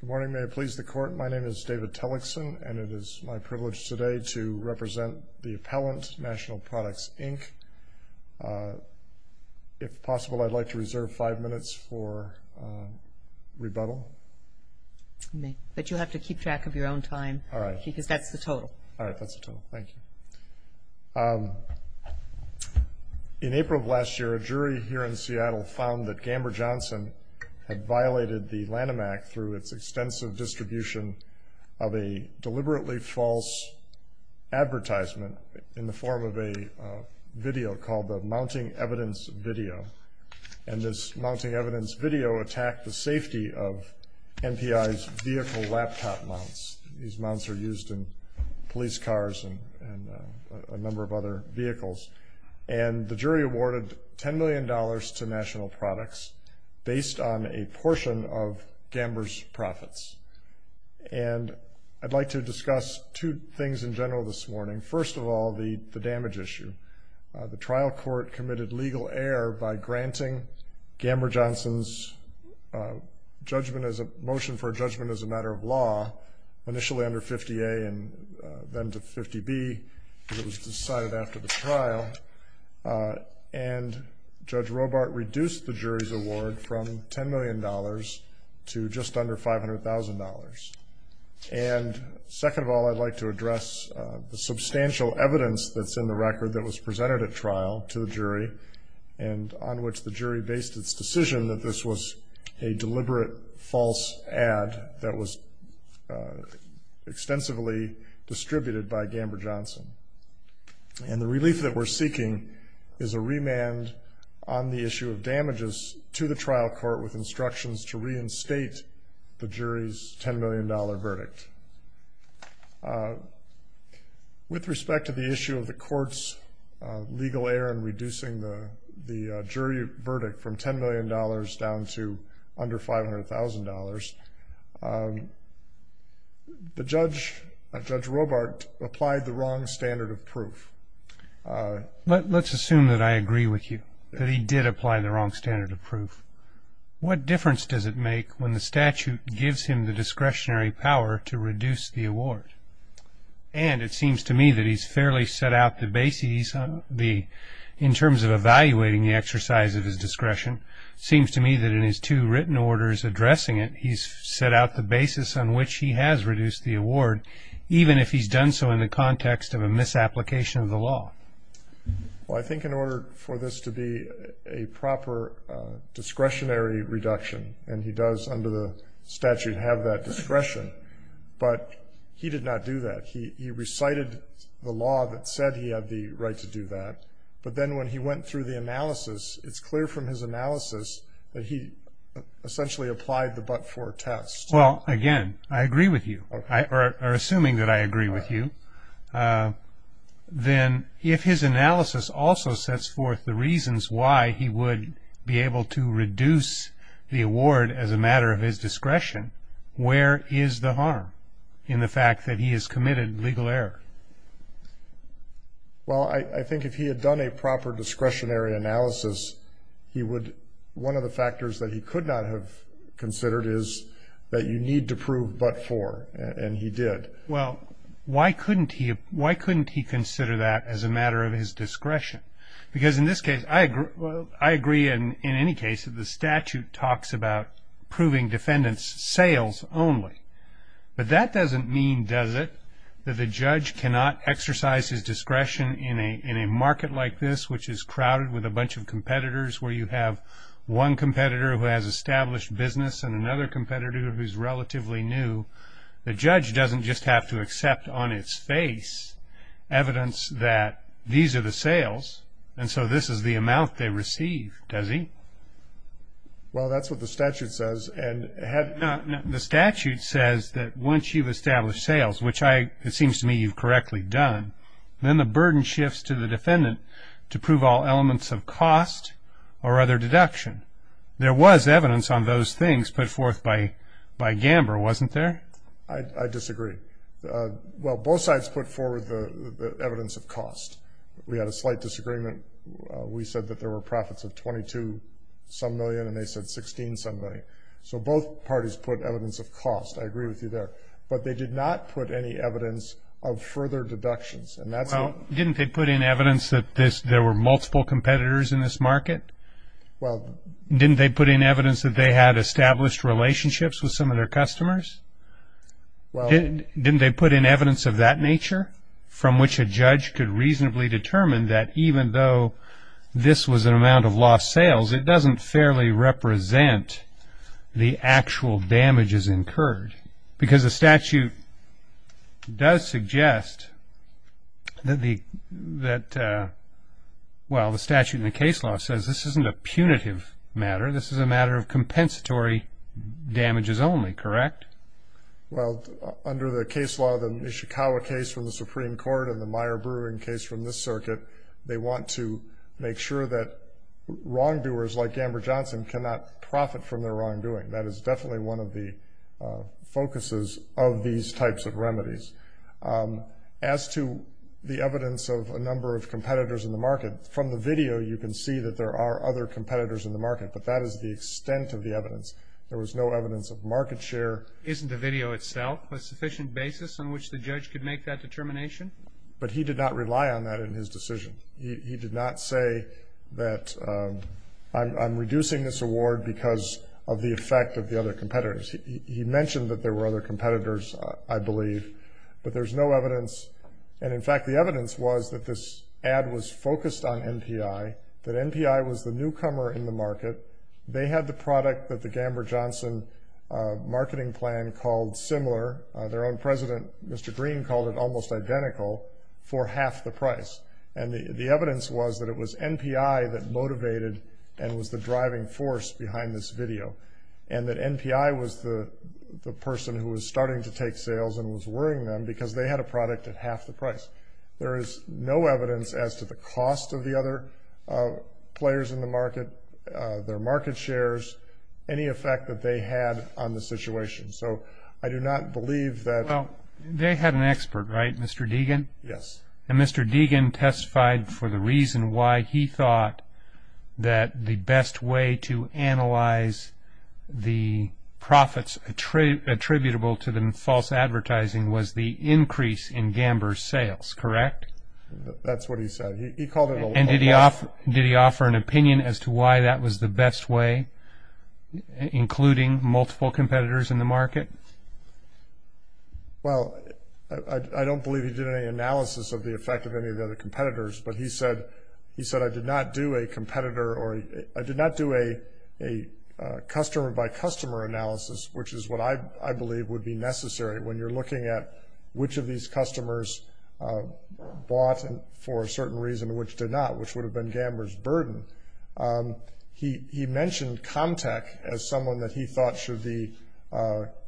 Good morning, may it please the court. My name is David Tellickson and it is my privilege today to represent the appellant, National Products Inc. If possible, I'd like to reserve five minutes for rebuttal. But you have to keep track of your own time. All right. Because that's the total. All right, that's the total. Thank you. In April of last year, a jury here in Seattle found that Gamber-Johnson had violated the Lanham Act through its extensive distribution of a deliberately false advertisement in the form of a video called the mounting evidence video. And this mounting evidence video attacked the safety of NPI's vehicle laptop mounts. These mounts are used in police cars and a number of other vehicles. And the jury awarded ten million dollars to National Products based on a portion of Gamber's profits. And I'd like to discuss two things in general this morning. First of all, the damage issue. The trial court committed legal error by granting Gamber-Johnson's motion for judgment as a matter of law initially under 50A and then to 50B. It was decided after the trial. And Judge Robart reduced the jury's award from ten million dollars to just under five hundred thousand dollars. And second of all, I'd like to address the substantial evidence that's in the record that was presented at trial to the jury and on which the jury based its decision that this was a deliberate false ad that was extensively distributed by Gamber-Johnson. And the relief that we're seeking is a remand on the issue of damages to the trial court with instructions to reinstate the jury's ten million dollar verdict. With respect to the issue of the court's legal error in reducing the jury verdict from ten million dollars down to under five hundred thousand dollars, Judge Robart applied the wrong standard of proof. Let's assume that I agree with you, that he did apply the wrong standard of proof. What difference does it make when the statute gives him the discretionary power to reduce the award? And it seems to me that he's fairly set out the bases in terms of evaluating the exercise of his discretion. Seems to me that in his two written orders addressing it, he's set out the basis on which he has reduced the award, even if he's done so in the context of a misapplication of the law. Well, I think in order for this to be a proper discretionary reduction, and he does under the statute have that discretion, but he did not do that. He recited the law that said he had the right to do that, but then when he went through the analysis, it's clear from his analysis that he essentially applied the but-for test. Well, again, I agree with you, or assuming that I agree with you, then if his analysis also sets forth the reasons why he would be able to reduce the award as a matter of his discretion, where is the harm in the fact that he has committed legal error? Well, I think if he had done a proper discretionary analysis, he would, one of the factors that he could not have considered is that you need to prove but-for, and he did. Well, why couldn't he consider that as a matter of his discretion? Because in this case, I agree in any case that the statute talks about proving defendant's sales only, but that doesn't mean, does it, that the judge cannot exercise his discretionary analysis. If the judge is crowded with a bunch of competitors where you have one competitor who has established business and another competitor who's relatively new, the judge doesn't just have to accept on its face evidence that these are the sales and so this is the amount they receive, does he? Well, that's what the statute says. The statute says that once you've correctly done, then the burden shifts to the defendant to prove all elements of cost or other deduction. There was evidence on those things put forth by by Gamber, wasn't there? I disagree. Well, both sides put forward the evidence of cost. We had a slight disagreement. We said that there were profits of 22 some million and they said 16 somebody, so both parties put evidence of cost. I further deductions. Well, didn't they put in evidence that there were multiple competitors in this market? Well, didn't they put in evidence that they had established relationships with some of their customers? Well, didn't they put in evidence of that nature from which a judge could reasonably determine that even though this was an amount of lost sales, it doesn't fairly represent the Well, the statute in the case law says this isn't a punitive matter. This is a matter of compensatory damages only, correct? Well, under the case law, the Nishikawa case from the Supreme Court and the Meyer Brewing case from this circuit, they want to make sure that wrongdoers like Gamber Johnson cannot profit from their wrongdoing. That is definitely one of the focuses of these types of remedies. As to the evidence of a number of competitors in the market, from the video you can see that there are other competitors in the market, but that is the extent of the evidence. There was no evidence of market share. Isn't the video itself a sufficient basis on which the judge could make that determination? But he did not rely on that in his decision. He did not say that I'm reducing this award because of the effect of the other competitors. He mentioned that there were other competitors, I believe, but there's no evidence. And in fact, the evidence was that this ad was focused on NPI, that NPI was the newcomer in the market. They had the product that the Gamber Johnson marketing plan called similar. Their own president, Mr. Green, called it almost identical for half the price. And the evidence was that it was NPI that the person who was starting to take sales and was worrying them because they had a product at half the price. There is no evidence as to the cost of the other players in the market, their market shares, any effect that they had on the situation. So I do not believe that... Well, they had an expert, right? Mr. Deegan? Yes. And Mr. Deegan testified for the reason why he thought that the best way to attribute to the false advertising was the increase in Gamber's sales, correct? That's what he said. He called it a low price. And did he offer an opinion as to why that was the best way, including multiple competitors in the market? Well, I don't believe he did any analysis of the effect of any of the other competitors, but he said, he said, I did not do a competitor or I did not do a customer-by-customer analysis, which is what I believe would be necessary when you're looking at which of these customers bought for a certain reason, which did not, which would have been Gamber's burden. He mentioned Comtec as someone that he thought should be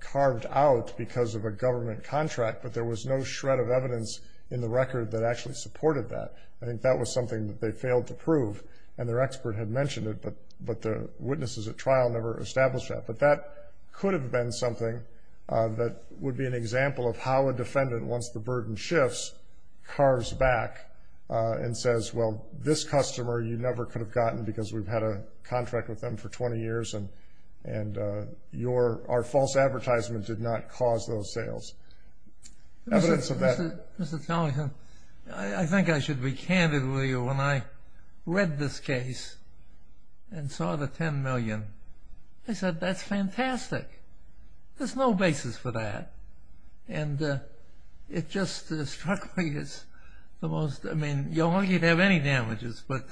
carved out because of a government contract, but there was no shred of evidence in the record that actually supported that. I think that was something that they failed to prove, and their expert had trial never established that, but that could have been something that would be an example of how a defendant, once the burden shifts, carves back and says, well, this customer you never could have gotten because we've had a contract with them for 20 years and, and your, our false advertisement did not cause those sales. Evidence of that. Mr. Tomlinson, I think I should be candid with you when I read this case and saw the $10 million, I said that's fantastic. There's no basis for that, and it just struck me as the most, I mean, you're lucky to have any damages, but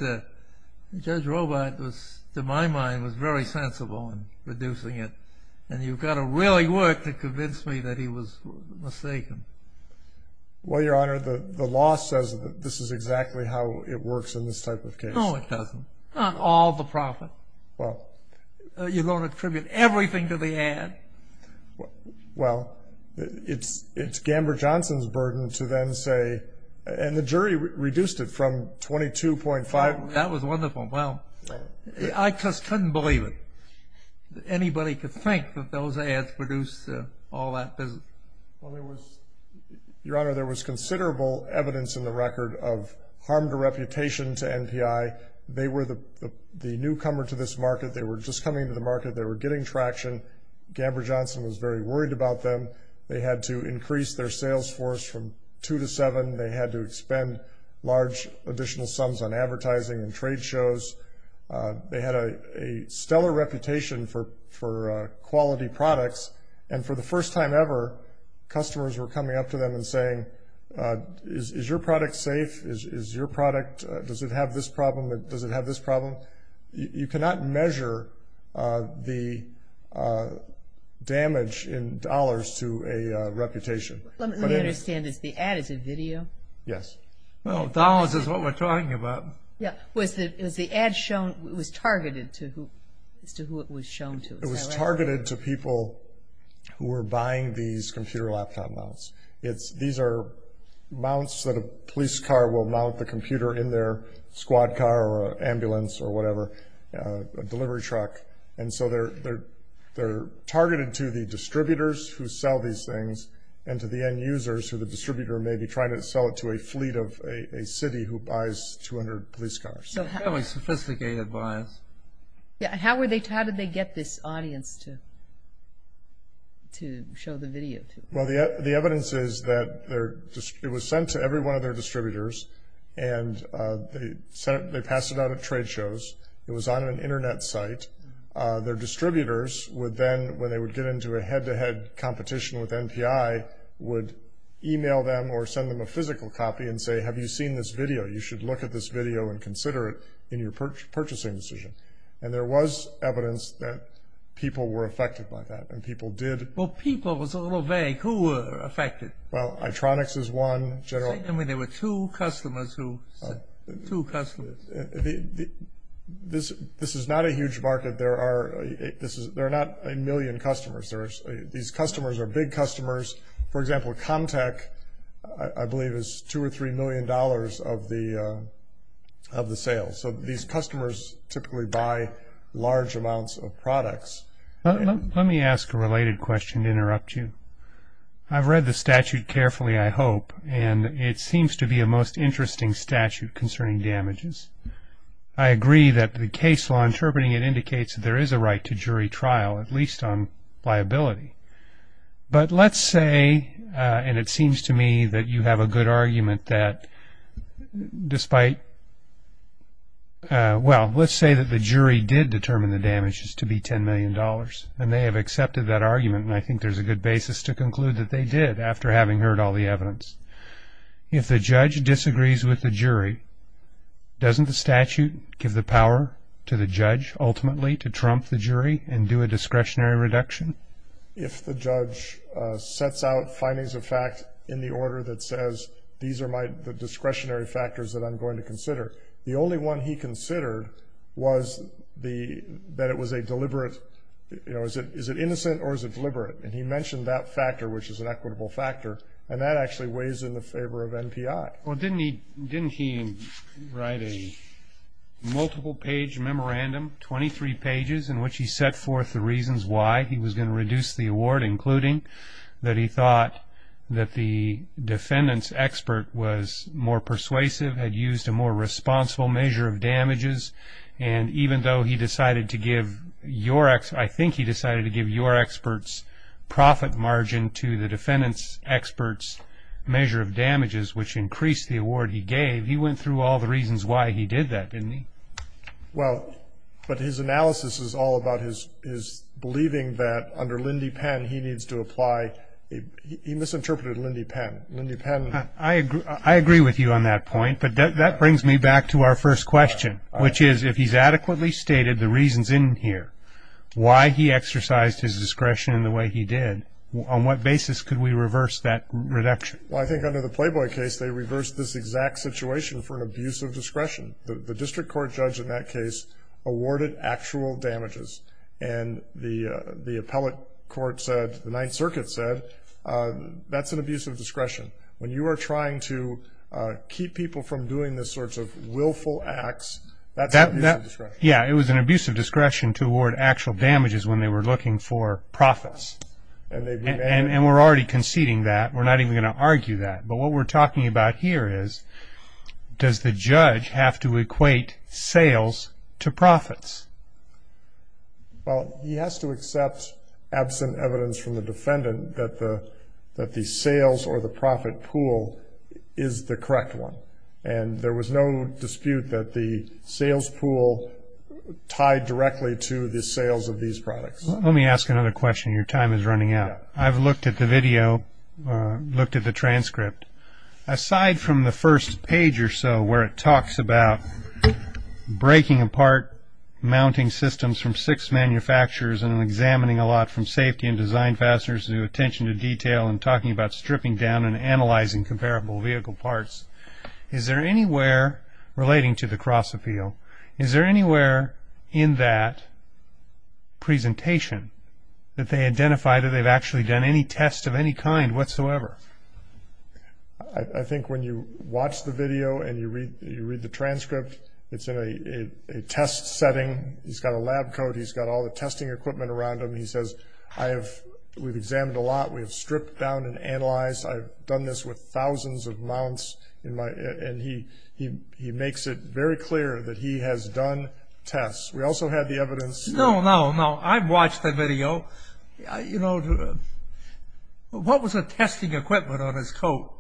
Judge Robart was, to my mind, was very sensible in producing it, and you've got to really work to convince me that he was mistaken. Well, Your Honor, the law says that this is exactly how it works in this type of case. No, it doesn't. Not all the profit. Well. You're going to attribute everything to the ad. Well, it's, it's Gamber Johnson's burden to then say, and the jury reduced it from 22.5. That was wonderful. Well, I just couldn't believe it. Anybody could think that those ads produced all that business. Well, there was, Your Honor, there was a, they were the newcomer to this market. They were just coming to the market. They were getting traction. Gamber Johnson was very worried about them. They had to increase their sales force from two to seven. They had to expend large additional sums on advertising and trade shows. They had a, a stellar reputation for, for quality products, and for the first time ever, customers were coming up to them and saying, is, is your product safe? Is, is your product, does it have this problem? Does it have this problem? You, you cannot measure, uh, the, uh, damage in dollars to a, uh, reputation. Let me understand, is the ad, is it video? Yes. Well, dollars is what we're talking about. Yeah. Was the, is the ad shown, was targeted to who, as to who it was shown to? It was targeted to people who were buying these computer laptop mounts. It's, these are mounts that a police car will mount the squad car or ambulance or whatever, uh, a delivery truck. And so they're, they're, they're targeted to the distributors who sell these things and to the end users who the distributor may be trying to sell it to a fleet of a, a city who buys 200 police cars. Fairly sophisticated buyers. Yeah, how were they, how did they get this audience to, to show the video to? Well, the, the evidence is that they're, it was sent to every one of their distributors and, uh, they sent it, they passed it out at trade shows. It was on an internet site. Uh, their distributors would then, when they would get into a head to head competition with NPI, would email them or send them a physical copy and say, have you seen this video? You should look at this video and consider it in your purchasing decision. And there was evidence that people were affected by that and people did. Well, people was a little vague. Who were affected? Well, I-tronics is one general. I mean, there were two customers who, two customers. This, this is not a huge market. There are, this is, there are not a million customers. There's, these customers are big customers. For example, Comtec, I believe is two or three million dollars of the, uh, of the sales. So these customers typically buy large amounts of products. Let me ask a related question to interrupt you. I've read the statute carefully, I hope, and it seems to be a most interesting statute concerning damages. I agree that the case law interpreting it indicates that there is a right to jury trial, at least on liability. But let's say, uh, and it seems to me that you have a good argument that despite, uh, well, let's say that the jury did determine the damages to be ten million dollars and they have accepted that argument and I think there's a good basis to conclude that they did after having heard all the evidence. If the judge disagrees with the jury, doesn't the statute give the power to the judge ultimately to trump the jury and do a discretionary reduction? If the judge, uh, sets out findings of fact in the order that says these are my, the discretionary factors that I'm going to consider, the only one he considered was the, that it was a deliberate, you know, is it, is it innocent or is it deliberate? And he mentioned that factor, which is an equitable factor, and that actually weighs in the favor of NPI. Well, didn't he, didn't he write a multiple page memorandum, 23 pages, in which he set forth the reasons why he was going to reduce the award, including that he thought that the defendant's expert was more persuasive, had used a more responsible measure of damages, and even though he decided to give your, I think he decided to give your expert's profit margin to the defendant's expert's measure of damages, which increased the award he gave, he went through all the reasons why he did that, didn't he? Well, but his analysis is all about his, his believing that under Lindy Penn, he needs to apply, he misinterpreted Lindy Penn. Lindy Penn. I agree, I agree with you on that point, but that, that brings me back to our first question, which is, if he's adequately stated the reasons in here, why he exercised his discretion in the way he did, on what basis could we reverse that reduction? Well, I think under the Playboy case, they reversed this exact situation for an abuse of discretion. The district court judge in that case awarded actual damages, and the, the appellate court said, the Ninth Circuit said, that's an abuse of discretion. When you are trying to keep people from doing this sorts of acts, that's an abuse of discretion. Yeah, it was an abuse of discretion to award actual damages when they were looking for profits. And we're already conceding that, we're not even going to argue that. But what we're talking about here is, does the judge have to equate sales to profits? Well, he has to accept, absent evidence from the defendant, that the, that the profit pool is the correct one. And there was no dispute that the sales pool tied directly to the sales of these products. Let me ask another question, your time is running out. I've looked at the video, looked at the transcript. Aside from the first page or so, where it talks about breaking apart mounting systems from six manufacturers, and examining a lot from safety and design fasteners to attention to detail, and talking about stripping down and analyzing comparable vehicle parts. Is there anywhere, relating to the cross appeal, is there anywhere in that presentation that they identify that they've actually done any test of any kind whatsoever? I think when you watch the video and you read the transcript, it's in a test setting, he's got a lab coat, he's got all the testing equipment around him, he has stripped down and analyzed. I've done this with thousands of mounts in my, and he, he, he makes it very clear that he has done tests. We also had the evidence. No, no, no. I've watched the video. You know, what was the testing equipment on his coat?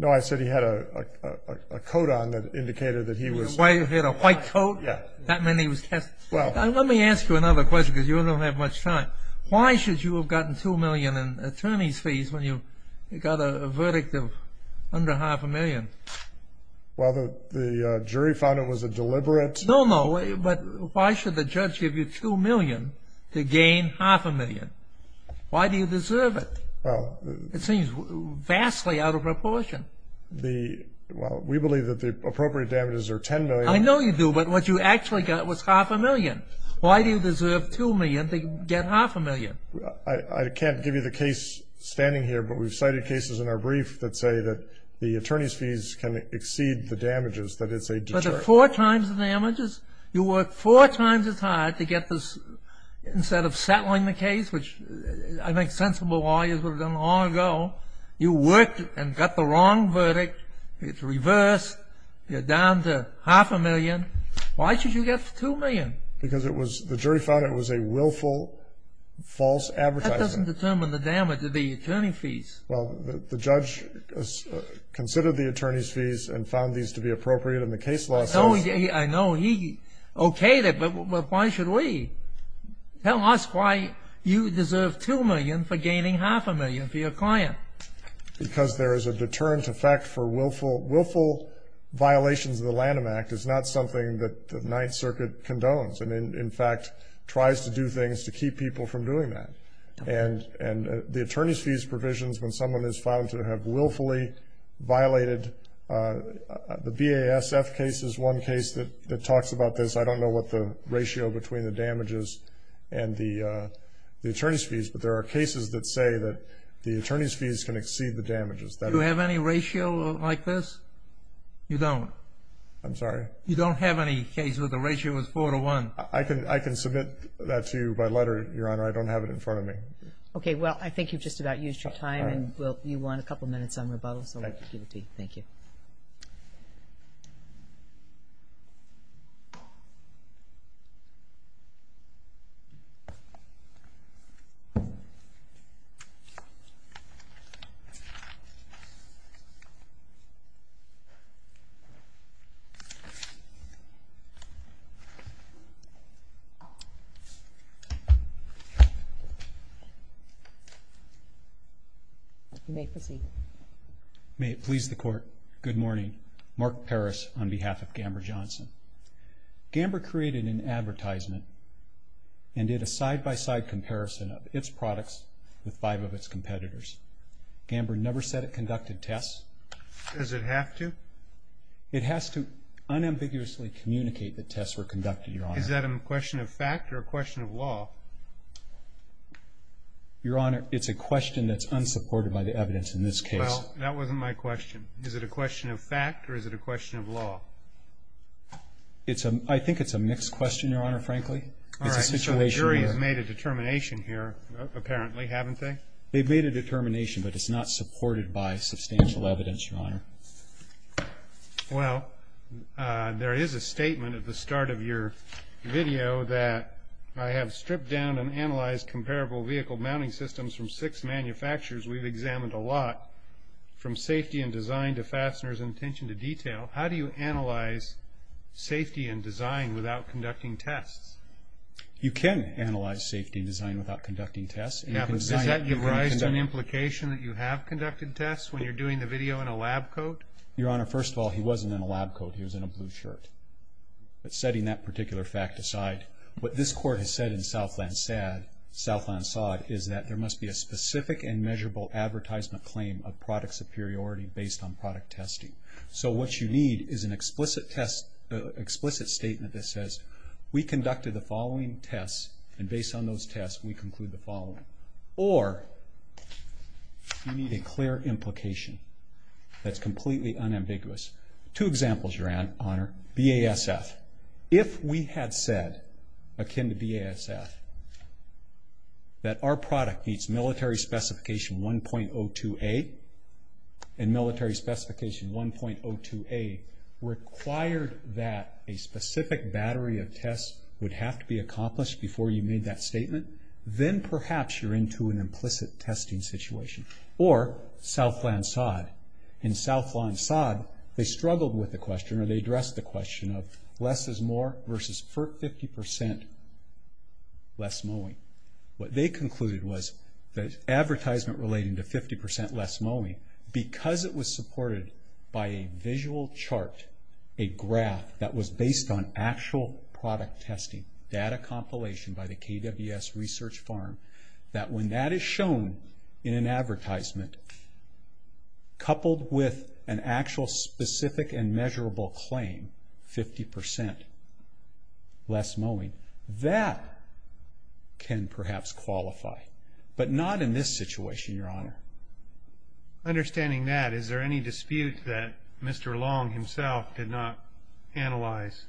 No, I said he had a coat on that indicated that he was... He had a white coat? Yeah. That meant he was testing. Let me ask you another question, because you don't have much time. Why should you have gotten 2 million in attorney's fees when you got a verdict of under half a million? Well, the jury found it was a deliberate... No, no. But why should the judge give you 2 million to gain half a million? Why do you deserve it? It seems vastly out of proportion. The, well, we believe that the appropriate damages are 10 million. I know you do, but what you actually got was half a million. Why do you deserve 2 million to get half a million? I can't give you the case standing here, but we've cited cases in our brief that say that the attorney's fees can exceed the damages, that it's a... But it's four times the damages. You work four times as hard to get this, instead of settling the case, which I think sensible lawyers would have done long ago. You worked and got the wrong verdict. It's reversed. You're down to half a million. Why should you get 2 million? Because it was, the jury found it was a willful, false advertisement. That doesn't determine the damage of the attorney fees. Well, the judge considered the attorney's fees and found these to be appropriate in the case law. I know he okayed it, but why should we? Tell us why you deserve 2 million for gaining half a million for your client. Because there is a deterrent effect for willful, willful violations of the Lanham Act. It's not something that the Ninth Circuit condones, and in fact, tries to do things to keep people from doing that. And the attorney's fees provisions, when someone is found to have willfully violated, the BASF case is one case that talks about this. I don't know what the ratio between the damages and the attorney's fees, but there are cases that say that the attorney's fees can exceed the damages. Do you have any ratio like this? You don't. I'm sorry? You don't have any case where the ratio is four to one. I can submit that to you by letter, Your Honor. I don't have it in front of me. Okay. Well, I think you've just about used your time and you want a couple minutes on rebuttal, so we'll give it to you. Thank you. You may proceed. May it please the Court. Good morning. Mark Paris on behalf of Gamber Johnson. Gamber created an advertisement and did a side-by-side comparison of its products with five of its competitors. Gamber never said it conducted tests. Does it have to? It has to unambiguously communicate that tests were conducted, Your Honor. Is that a question of fact or a question of law? Your Honor, it's a question that's unsupported by the evidence in this case. Well, that wasn't my question. Is it a question of fact or is it a question of law? It's a, I think it's a mixed question, Your Honor, frankly. It's a situation where- All right, so the jury has made a determination here, apparently, haven't they? They've made a determination, but it's not supported by substantial evidence, Your Honor. Well, there is a statement at the start of your video that I have stripped down and analyzed comparable vehicle mounting systems from six manufacturers. We've examined a lot from safety and design to fasteners and tension to detail. How do you analyze safety and design without conducting tests? You can analyze safety and design without conducting tests. Yeah, but does that give rise to an implication that you have conducted tests when you're doing the video in a lab coat? Your Honor, first of all, he wasn't in a lab coat. He was in a blue shirt. But setting that particular fact aside, what this court has said in Southland Sod is that there must be a specific and measurable advertisement claim of product superiority based on product testing. So what you need is an explicit test, explicit statement that says, we conducted the following tests, and based on those tests, we conclude the following. Or you need a clear implication that's completely unambiguous. Two examples, Your Honor. BASF. If we had said, akin to BASF, that our product meets military specification 1.02a and military specification 1.02a required that a specific battery of tests would have to be accomplished before you made that statement, then perhaps you're into an implicit testing situation. Or Southland Sod. In Southland Sod, they struggled with the question or they addressed the question of less is more versus 50% less mowing. What they concluded was that advertisement relating to 50% less mowing, because it was supported by a visual chart, a graph that was based on actual product testing, data compilation by the KWS Research Farm, that when that is shown in an advertisement coupled with an actual specific and measurable claim, 50% less mowing, that can perhaps qualify. But not in this situation, Your Honor. Understanding that, is there any dispute that Mr. Long himself did not analyze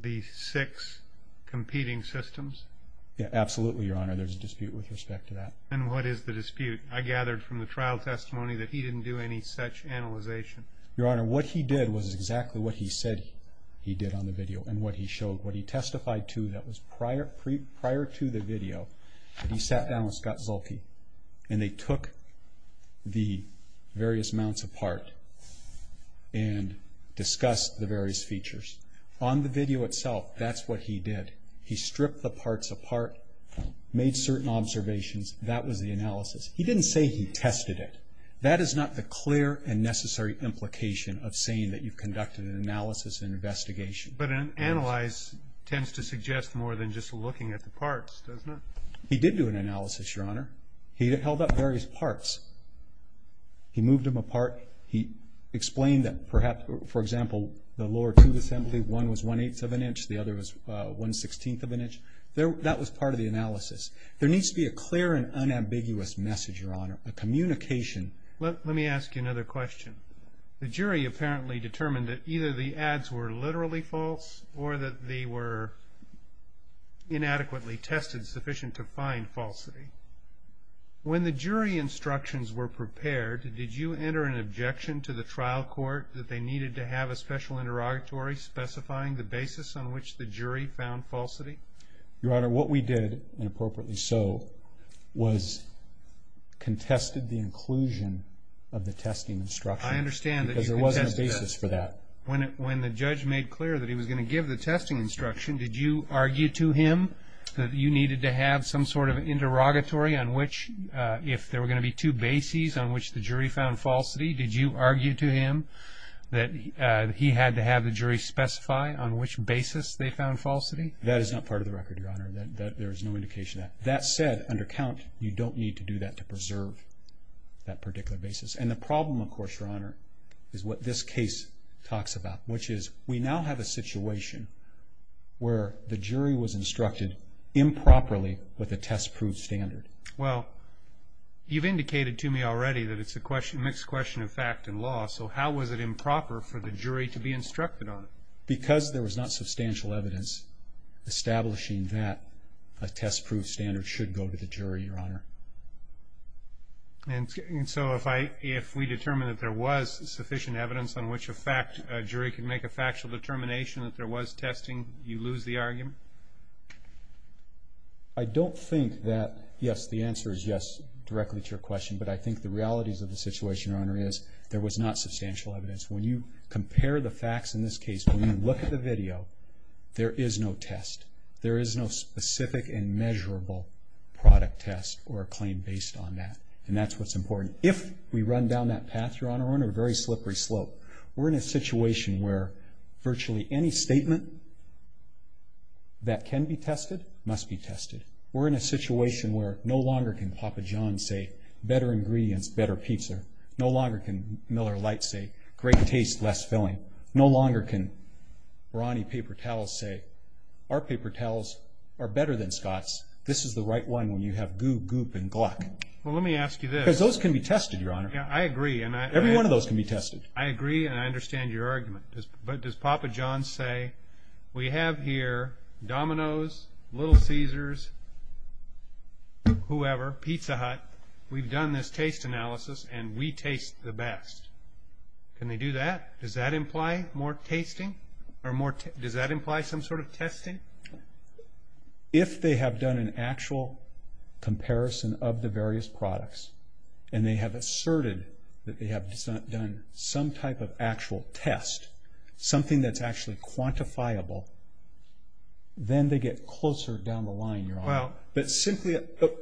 the six competing systems? Yeah, absolutely, Your Honor. There's a dispute with respect to that. And what is the dispute? I gathered from the trial testimony that he didn't do any such analyzation. Your Honor, what he did was exactly what he said he did on the video and what he showed, what he testified to that was prior to the video. And he sat down with Scott Zulke, and they took the various mounts apart and discussed the various features. On the video itself, that's what he did. He stripped the parts apart, made certain observations, that was the analysis. He didn't say he tested it. That is not the clear and necessary implication of saying that you conducted an analysis and investigation. But an analyze tends to suggest more than just looking at the parts, doesn't it? He did do an analysis, Your Honor. He held up various parts. He moved them apart. He explained them. Perhaps, for example, the lower tube assembly, one was one-eighth of an inch. The other was one-sixteenth of an inch. That was part of the analysis. There needs to be a clear and unambiguous message, Your Honor, a communication. Let me ask you another question. The jury apparently determined that either the ads were literally false or that they were inadequately tested sufficient to find falsity. When the jury instructions were prepared, did you enter an objection to the trial court that they needed to have a special interrogatory specifying the basis on which the jury found falsity? Your Honor, what we did, and appropriately so, was contested the inclusion of the testing instruction. I understand that you contested that. Because there wasn't a basis for that. When the judge made clear that he was going to give the testing instruction, did you argue to him that you needed to have some sort of interrogatory on which, if there were going to be two bases on which the jury found falsity, did you argue to him that he had to have the jury specify on which basis they found falsity? That is not part of the record, Your Honor. There is no indication of that. That said, under count, you don't need to do that to preserve that particular basis. And the problem, of course, Your Honor, is what this case talks about, which is we now have a situation where the jury was instructed improperly with a test-proof standard. Well, you've indicated to me already that it's a mixed question of fact and law, so how was it improper for the jury to be instructed on it? Because there was not substantial evidence establishing that a test-proof standard should go to the jury, Your Honor. And so if we determine that there was sufficient evidence on which a jury can make a factual determination that there was testing, you lose the argument? I don't think that, yes, the answer is yes, directly to your question, but I think the realities of the situation, Your Honor, is there was not substantial evidence. When you compare the facts in this case, when you look at the video, there is no test. There is no specific and measurable product test or test. We're a claim based on that, and that's what's important. If we run down that path, Your Honor, we're on a very slippery slope. We're in a situation where virtually any statement that can be tested must be tested. We're in a situation where no longer can Papa John's say, better ingredients, better pizza. No longer can Miller Lite say, great taste, less filling. No longer can Ronnie paper towels say, our paper towels are better than Scott's. This is the right one when you have goo, goop, and gluck. Well, let me ask you this. Because those can be tested, Your Honor. Yeah, I agree. Every one of those can be tested. I agree, and I understand your argument. But does Papa John's say, we have here Domino's, Little Caesars, whoever, Pizza Hut. We've done this taste analysis, and we taste the best. Can they do that? Does that imply more tasting, or more, does that imply some sort of testing? If they have done an actual comparison of the various products, and they have asserted that they have done some type of actual test, something that's actually quantifiable, then they get closer down the line, Your Honor. But simply,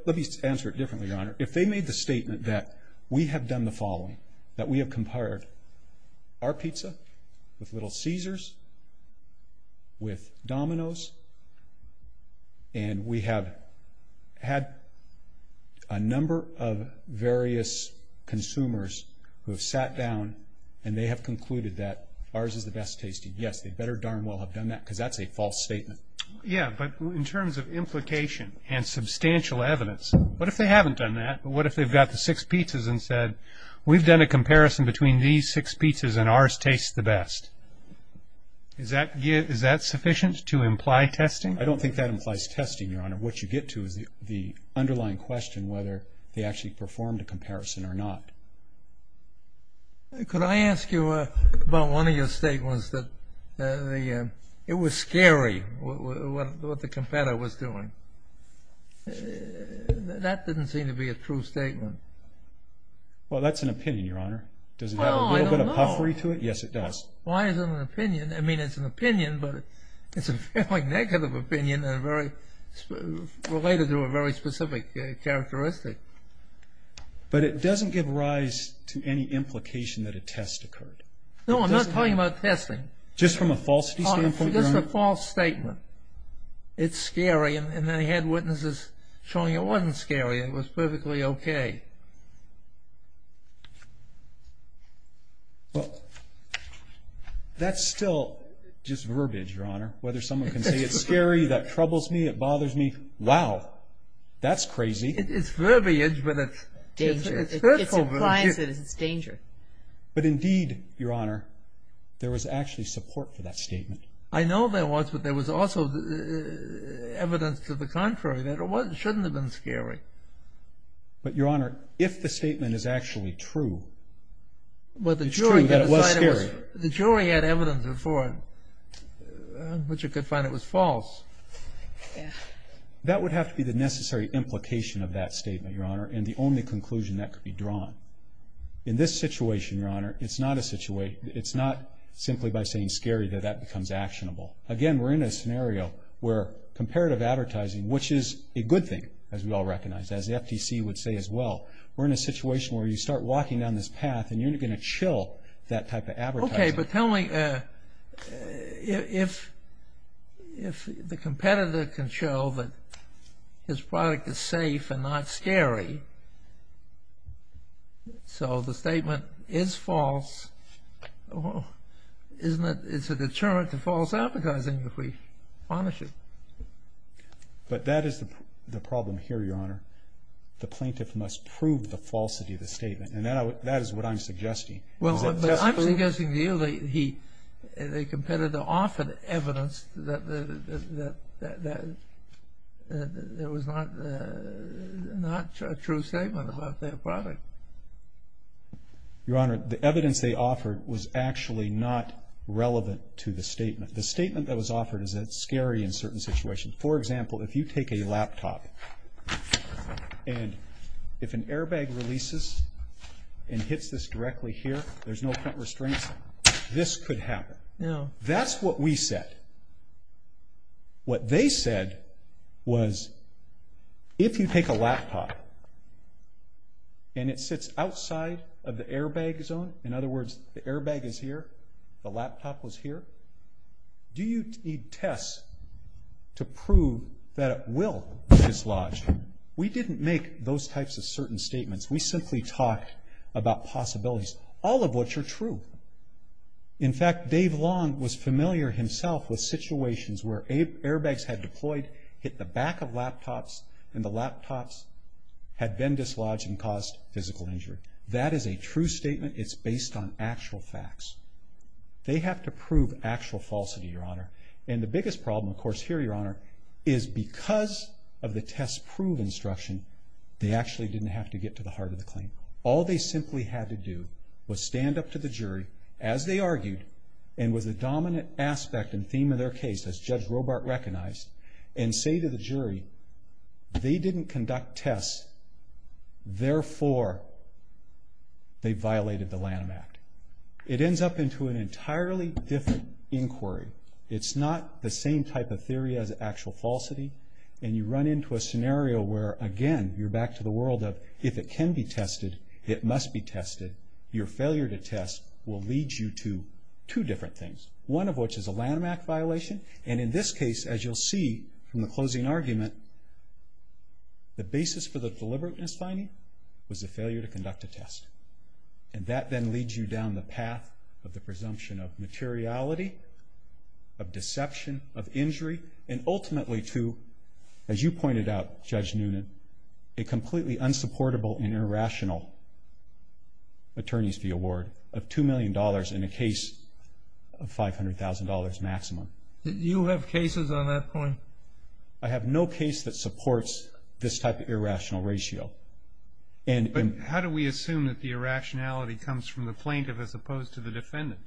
let me answer it differently, Your Honor. If they made the statement that we have done the following, that we have compared our pizza with Little Caesars, with Domino's, and we have had a number of various consumers who have sat down, and they have concluded that ours is the best tasting. Yes, they better darn well have done that, because that's a false statement. Yeah, but in terms of implication and substantial evidence, what if they haven't done that? But what if they've got the six pizzas and said, we've done a comparison between these six pizzas, and ours tastes the best? Is that sufficient to imply testing? I don't think that implies testing, Your Honor. What you get to is the underlying question, whether they actually performed a comparison or not. Could I ask you about one of your statements, that it was scary, what the competitor was doing? That didn't seem to be a true statement. Well, that's an opinion, Your Honor. Does it have a little bit of puffery to it? Yes, it does. Why is it an opinion? I mean, it's an opinion, but it's a fairly negative opinion, and related to a very specific characteristic. But it doesn't give rise to any implication that a test occurred. No, I'm not talking about testing. Just from a falsity standpoint, Your Honor? It's a false statement. It's scary, and they had witnesses showing it wasn't scary, it was perfectly okay. Well, that's still just verbiage, Your Honor. Whether someone can say it's scary, that troubles me, it bothers me, wow, that's crazy. It's verbiage, but it's hurtful verbiage. It's danger. But indeed, Your Honor, there was actually support for that statement. I know there was, but there was also evidence to the contrary that it shouldn't have been scary. But, Your Honor, if the statement is actually true, it's true that it was scary. But the jury had evidence before, which you could find it was false. That would have to be the necessary implication of that statement, Your Honor, and the only conclusion that could be drawn. In this situation, Your Honor, it's not simply by saying scary that that becomes actionable. Again, we're in a scenario where comparative advertising, which is a good thing, as we all recognize, as the FTC would say as well, we're in a situation where you start walking down this path and you're not going to chill that type of advertising. Okay, but tell me, if the competitor can show that his product is safe and not scary, so the statement is false, isn't it a deterrent to false advertising if we punish it? But that is the problem here, Your Honor. The plaintiff must prove the falsity of the statement, and that is what I'm suggesting. Well, but I'm suggesting to you that the competitor offered evidence that there was not a true statement about their product. Your Honor, the evidence they offered was actually not relevant to the statement. The statement that was offered is that it's scary in certain situations. For example, if you take a laptop and if an airbag releases and hits this directly here, there's no print restraints, this could happen. No. That's what we said. What they said was, if you take a laptop and it sits outside of the airbag zone, in other words, the airbag is here, the laptop was here, do you need tests to prove that it will be dislodged? We didn't make those types of certain statements. We simply talked about possibilities, all of which are true. In fact, Dave Long was familiar himself with situations where airbags had deployed, hit the back of laptops, and the laptops had been dislodged and caused physical injury. That is a true statement. It's based on actual facts. They have to prove actual falsity, Your Honor. And the biggest problem, of course, here, Your Honor, is because of the test-prove instruction, they actually didn't have to get to the heart of the claim. All they simply had to do was stand up to the jury, as they argued, and with the dominant aspect and theme of their case, as Judge Robart recognized, and say to the jury, they didn't conduct tests, therefore, they violated the Lanham Act. It ends up into an entirely different inquiry. It's not the same type of theory as actual falsity, and you run into a scenario where, again, you're back to the world of, if it can be tested, it must be tested. Your failure to test will lead you to two different things. One of which is a Lanham Act violation, and in this case, as you'll see from the closing argument, the basis for the deliberate misfinding was the failure to conduct a test. And that then leads you down the path of the presumption of materiality, of deception, of injury, and ultimately to, as you pointed out, Judge Noonan, a completely unsupportable and irrational attorney's fee award of $2 million in a case of $500,000 maximum. You have cases on that point? I have no case that supports this type of irrational ratio. But how do we assume that the irrationality comes from the plaintiff as opposed to the defendant?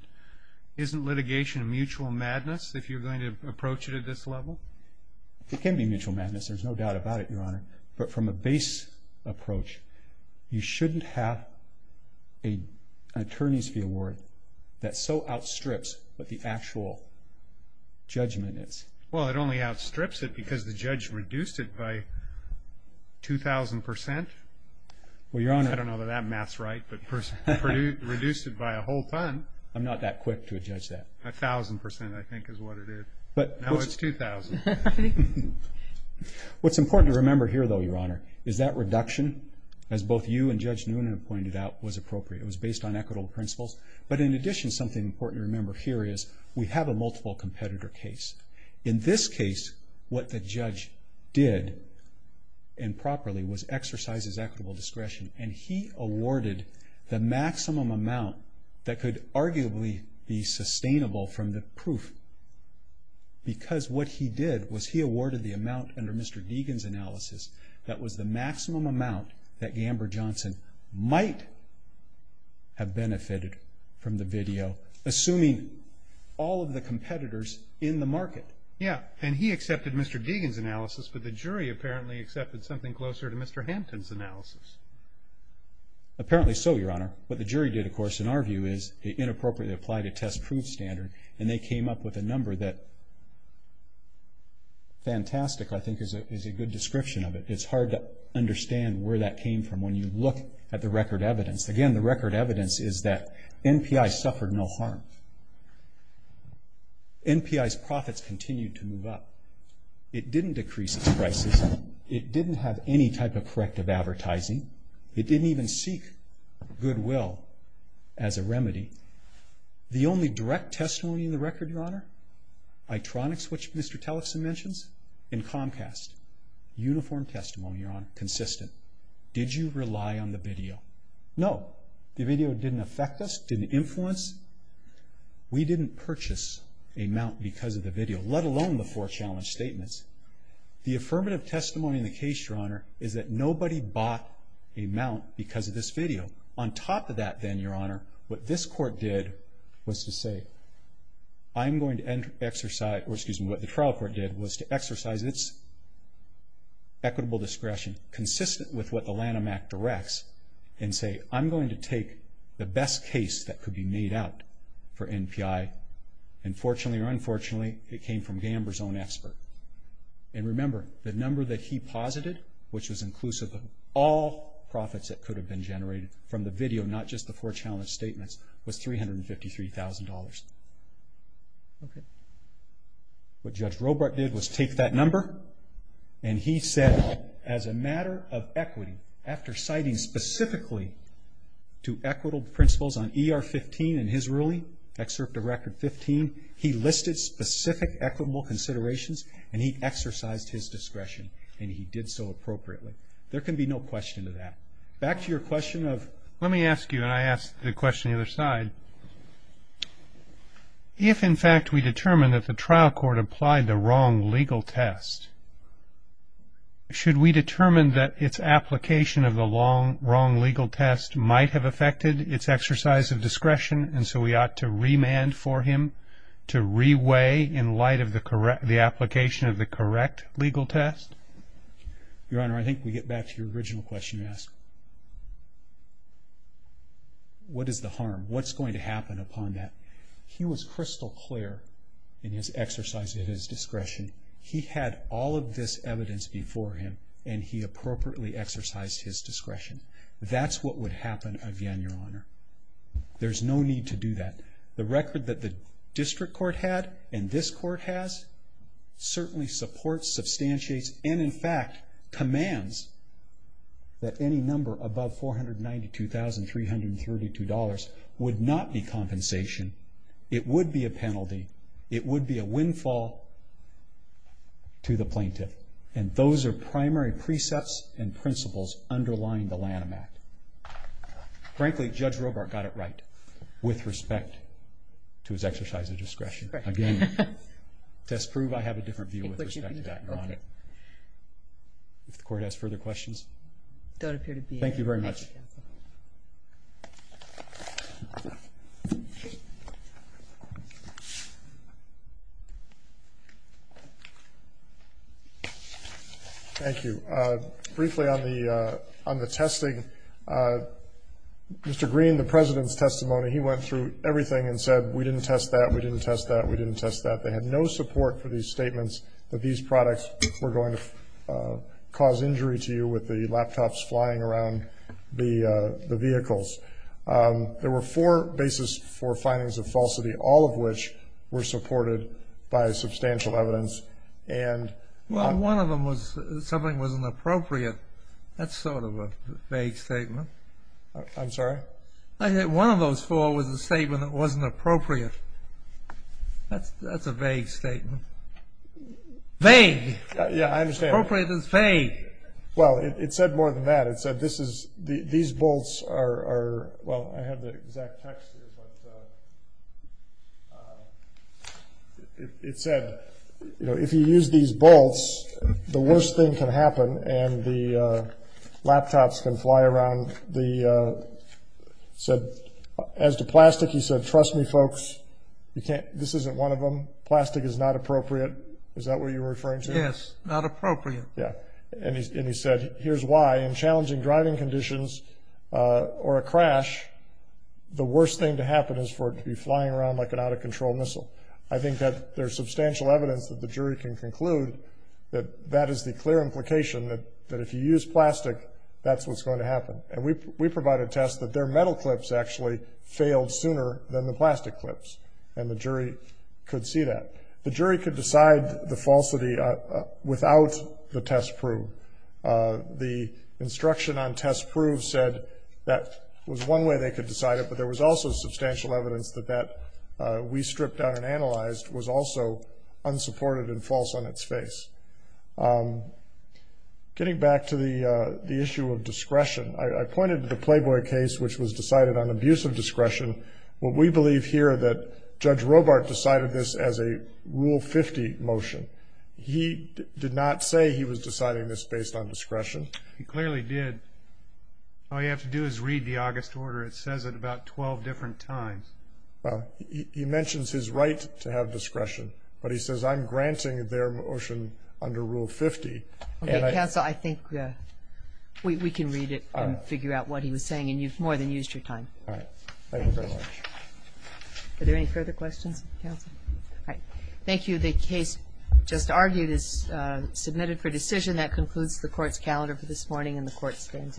Isn't litigation mutual madness if you're going to approach it at this level? It can be mutual madness. There's no doubt about it, Your Honor. But from a base approach, you shouldn't have an attorney's fee award that so outstrips what the actual judgment is. Well, it only outstrips it because the judge reduced it by 2,000 percent. Well, Your Honor. I don't know that that math's right, but reduced it by a whole ton. I'm not that quick to judge that. A thousand percent, I think, is what it is. But now it's 2,000. What's important to remember here, though, Your Honor, is that reduction, as both you and Judge Noonan pointed out, was appropriate. It was based on equitable principles. But in addition, something important to remember here is we have a multiple competitor case. In this case, what the judge did improperly was exercise his equitable discretion. And he awarded the maximum amount that could arguably be sustainable from the proof because what he did was he awarded the amount under Mr. Deegan's analysis that was the maximum amount that Gamber Johnson might have benefited from the video, assuming all of the competitors in the market. Yeah. And he accepted Mr. Deegan's analysis, but the jury apparently accepted something closer to Mr. Hampton's analysis. Apparently so, Your Honor. What the jury did, of course, in our view, is inappropriately applied a test-proof standard. And they came up with a number that fantastic, I think, is a good description of it. It's hard to understand where that came from when you look at the record evidence. Again, the record evidence is that NPI suffered no harm. NPI's profits continued to move up. It didn't decrease its prices. It didn't have any type of corrective advertising. It didn't even seek goodwill as a remedy. The only direct testimony in the record, Your Honor, ITRONIX, which Mr. Tellison mentions, and Comcast. Uniform testimony, Your Honor. Consistent. Did you rely on the video? No. The video didn't affect us, didn't influence. We didn't purchase a mount because of the video, let alone the four challenge statements. The affirmative testimony in the case, Your Honor, is that nobody bought a mount because of this video. On top of that then, Your Honor, what this court did was to say, I'm going to exercise, or excuse me, what the trial court did was to exercise its equitable discretion, consistent with what the Lanham Act directs, and say, I'm going to take the best case that could be made out for NPI. And fortunately or unfortunately, it came from Gamber's own expert. And remember, the number that he posited, which was inclusive of all profits that could have been generated from the video, not just the four challenge statements, was $353,000. Okay. What Judge Robart did was take that number, and he said, as a matter of equity, after citing specifically to equitable principles on ER 15 and his ruling, excerpt of Record 15, he listed specific equitable considerations, and he exercised his discretion, and he did so appropriately. There can be no question of that. Back to your question of... Let me ask you, and I ask the question on the other side. If, in fact, we determine that the trial court applied the wrong legal test, should we determine that its application of the wrong legal test might have affected its exercise of discretion, and so we ought to remand for him to re-weigh in light of the application of the correct legal test? Your Honor, I think we get back to your original question you asked. What is the harm? What's going to happen upon that? He was crystal clear in his exercise of his discretion. He had all of this evidence before him, and he appropriately exercised his discretion. That's what would happen again, Your Honor. There's no need to do that. The record that the district court had and this court has certainly supports, substantiates, and, in fact, commands that any number above $492,332 would not be compensation. It would be a penalty. It would be a windfall to the plaintiff, and those are primary precepts and principles underlying the Lanham Act. Frankly, Judge Robart got it right with respect to his exercise of discretion. Again, test prove I have a different view with respect to that. Your Honor. If the court has further questions. Don't appear to be. Thank you very much. Thank you. Briefly on the testing, Mr. Green, the President's testimony, he went through everything and said, we didn't test that, we didn't test that, we didn't test that. They had no support for these statements that these products were going to cause injury to you with the laptops flying around the vehicles. There were four basis for findings of falsity, all of which were supported by substantial evidence and. Well, one of them was something that wasn't appropriate. That's sort of a vague statement. I'm sorry? I think one of those four was a statement that wasn't appropriate. That's a vague statement. Vague. Yeah, I understand. Appropriate is vague. Well, it said more than that. It said this is, these bolts are, well, I have the exact text here, but it said, you know, said, as to plastic, he said, trust me, folks, you can't, this isn't one of them. Plastic is not appropriate. Is that what you're referring to? Yes, not appropriate. Yeah, and he said, here's why, in challenging driving conditions or a crash, the worst thing to happen is for it to be flying around like an out-of-control missile. I think that there's substantial evidence that the jury can conclude that that is the clear implication that if you use plastic, that's what's going to happen. And we provided tests that their metal clips actually failed sooner than the plastic clips, and the jury could see that. The jury could decide the falsity without the test prove. The instruction on test prove said that was one way they could decide it, but there was also substantial evidence that that we stripped down and analyzed was also unsupported and false on its face. Getting back to the issue of discretion, I pointed to the Playboy case, which was decided on abuse of discretion. What we believe here that Judge Robart decided this as a Rule 50 motion. He did not say he was deciding this based on discretion. He clearly did. All you have to do is read the August order. It says it about 12 different times. Well, he mentions his right to have discretion, but he says I'm granting their motion under Rule 50. Okay, counsel, I think we can read it and figure out what he was saying, and you've more than used your time. All right. Thank you very much. Are there any further questions, counsel? All right. Thank you. The case just argued is submitted for decision. That concludes the court's calendar for this morning, and the court stands adjourned.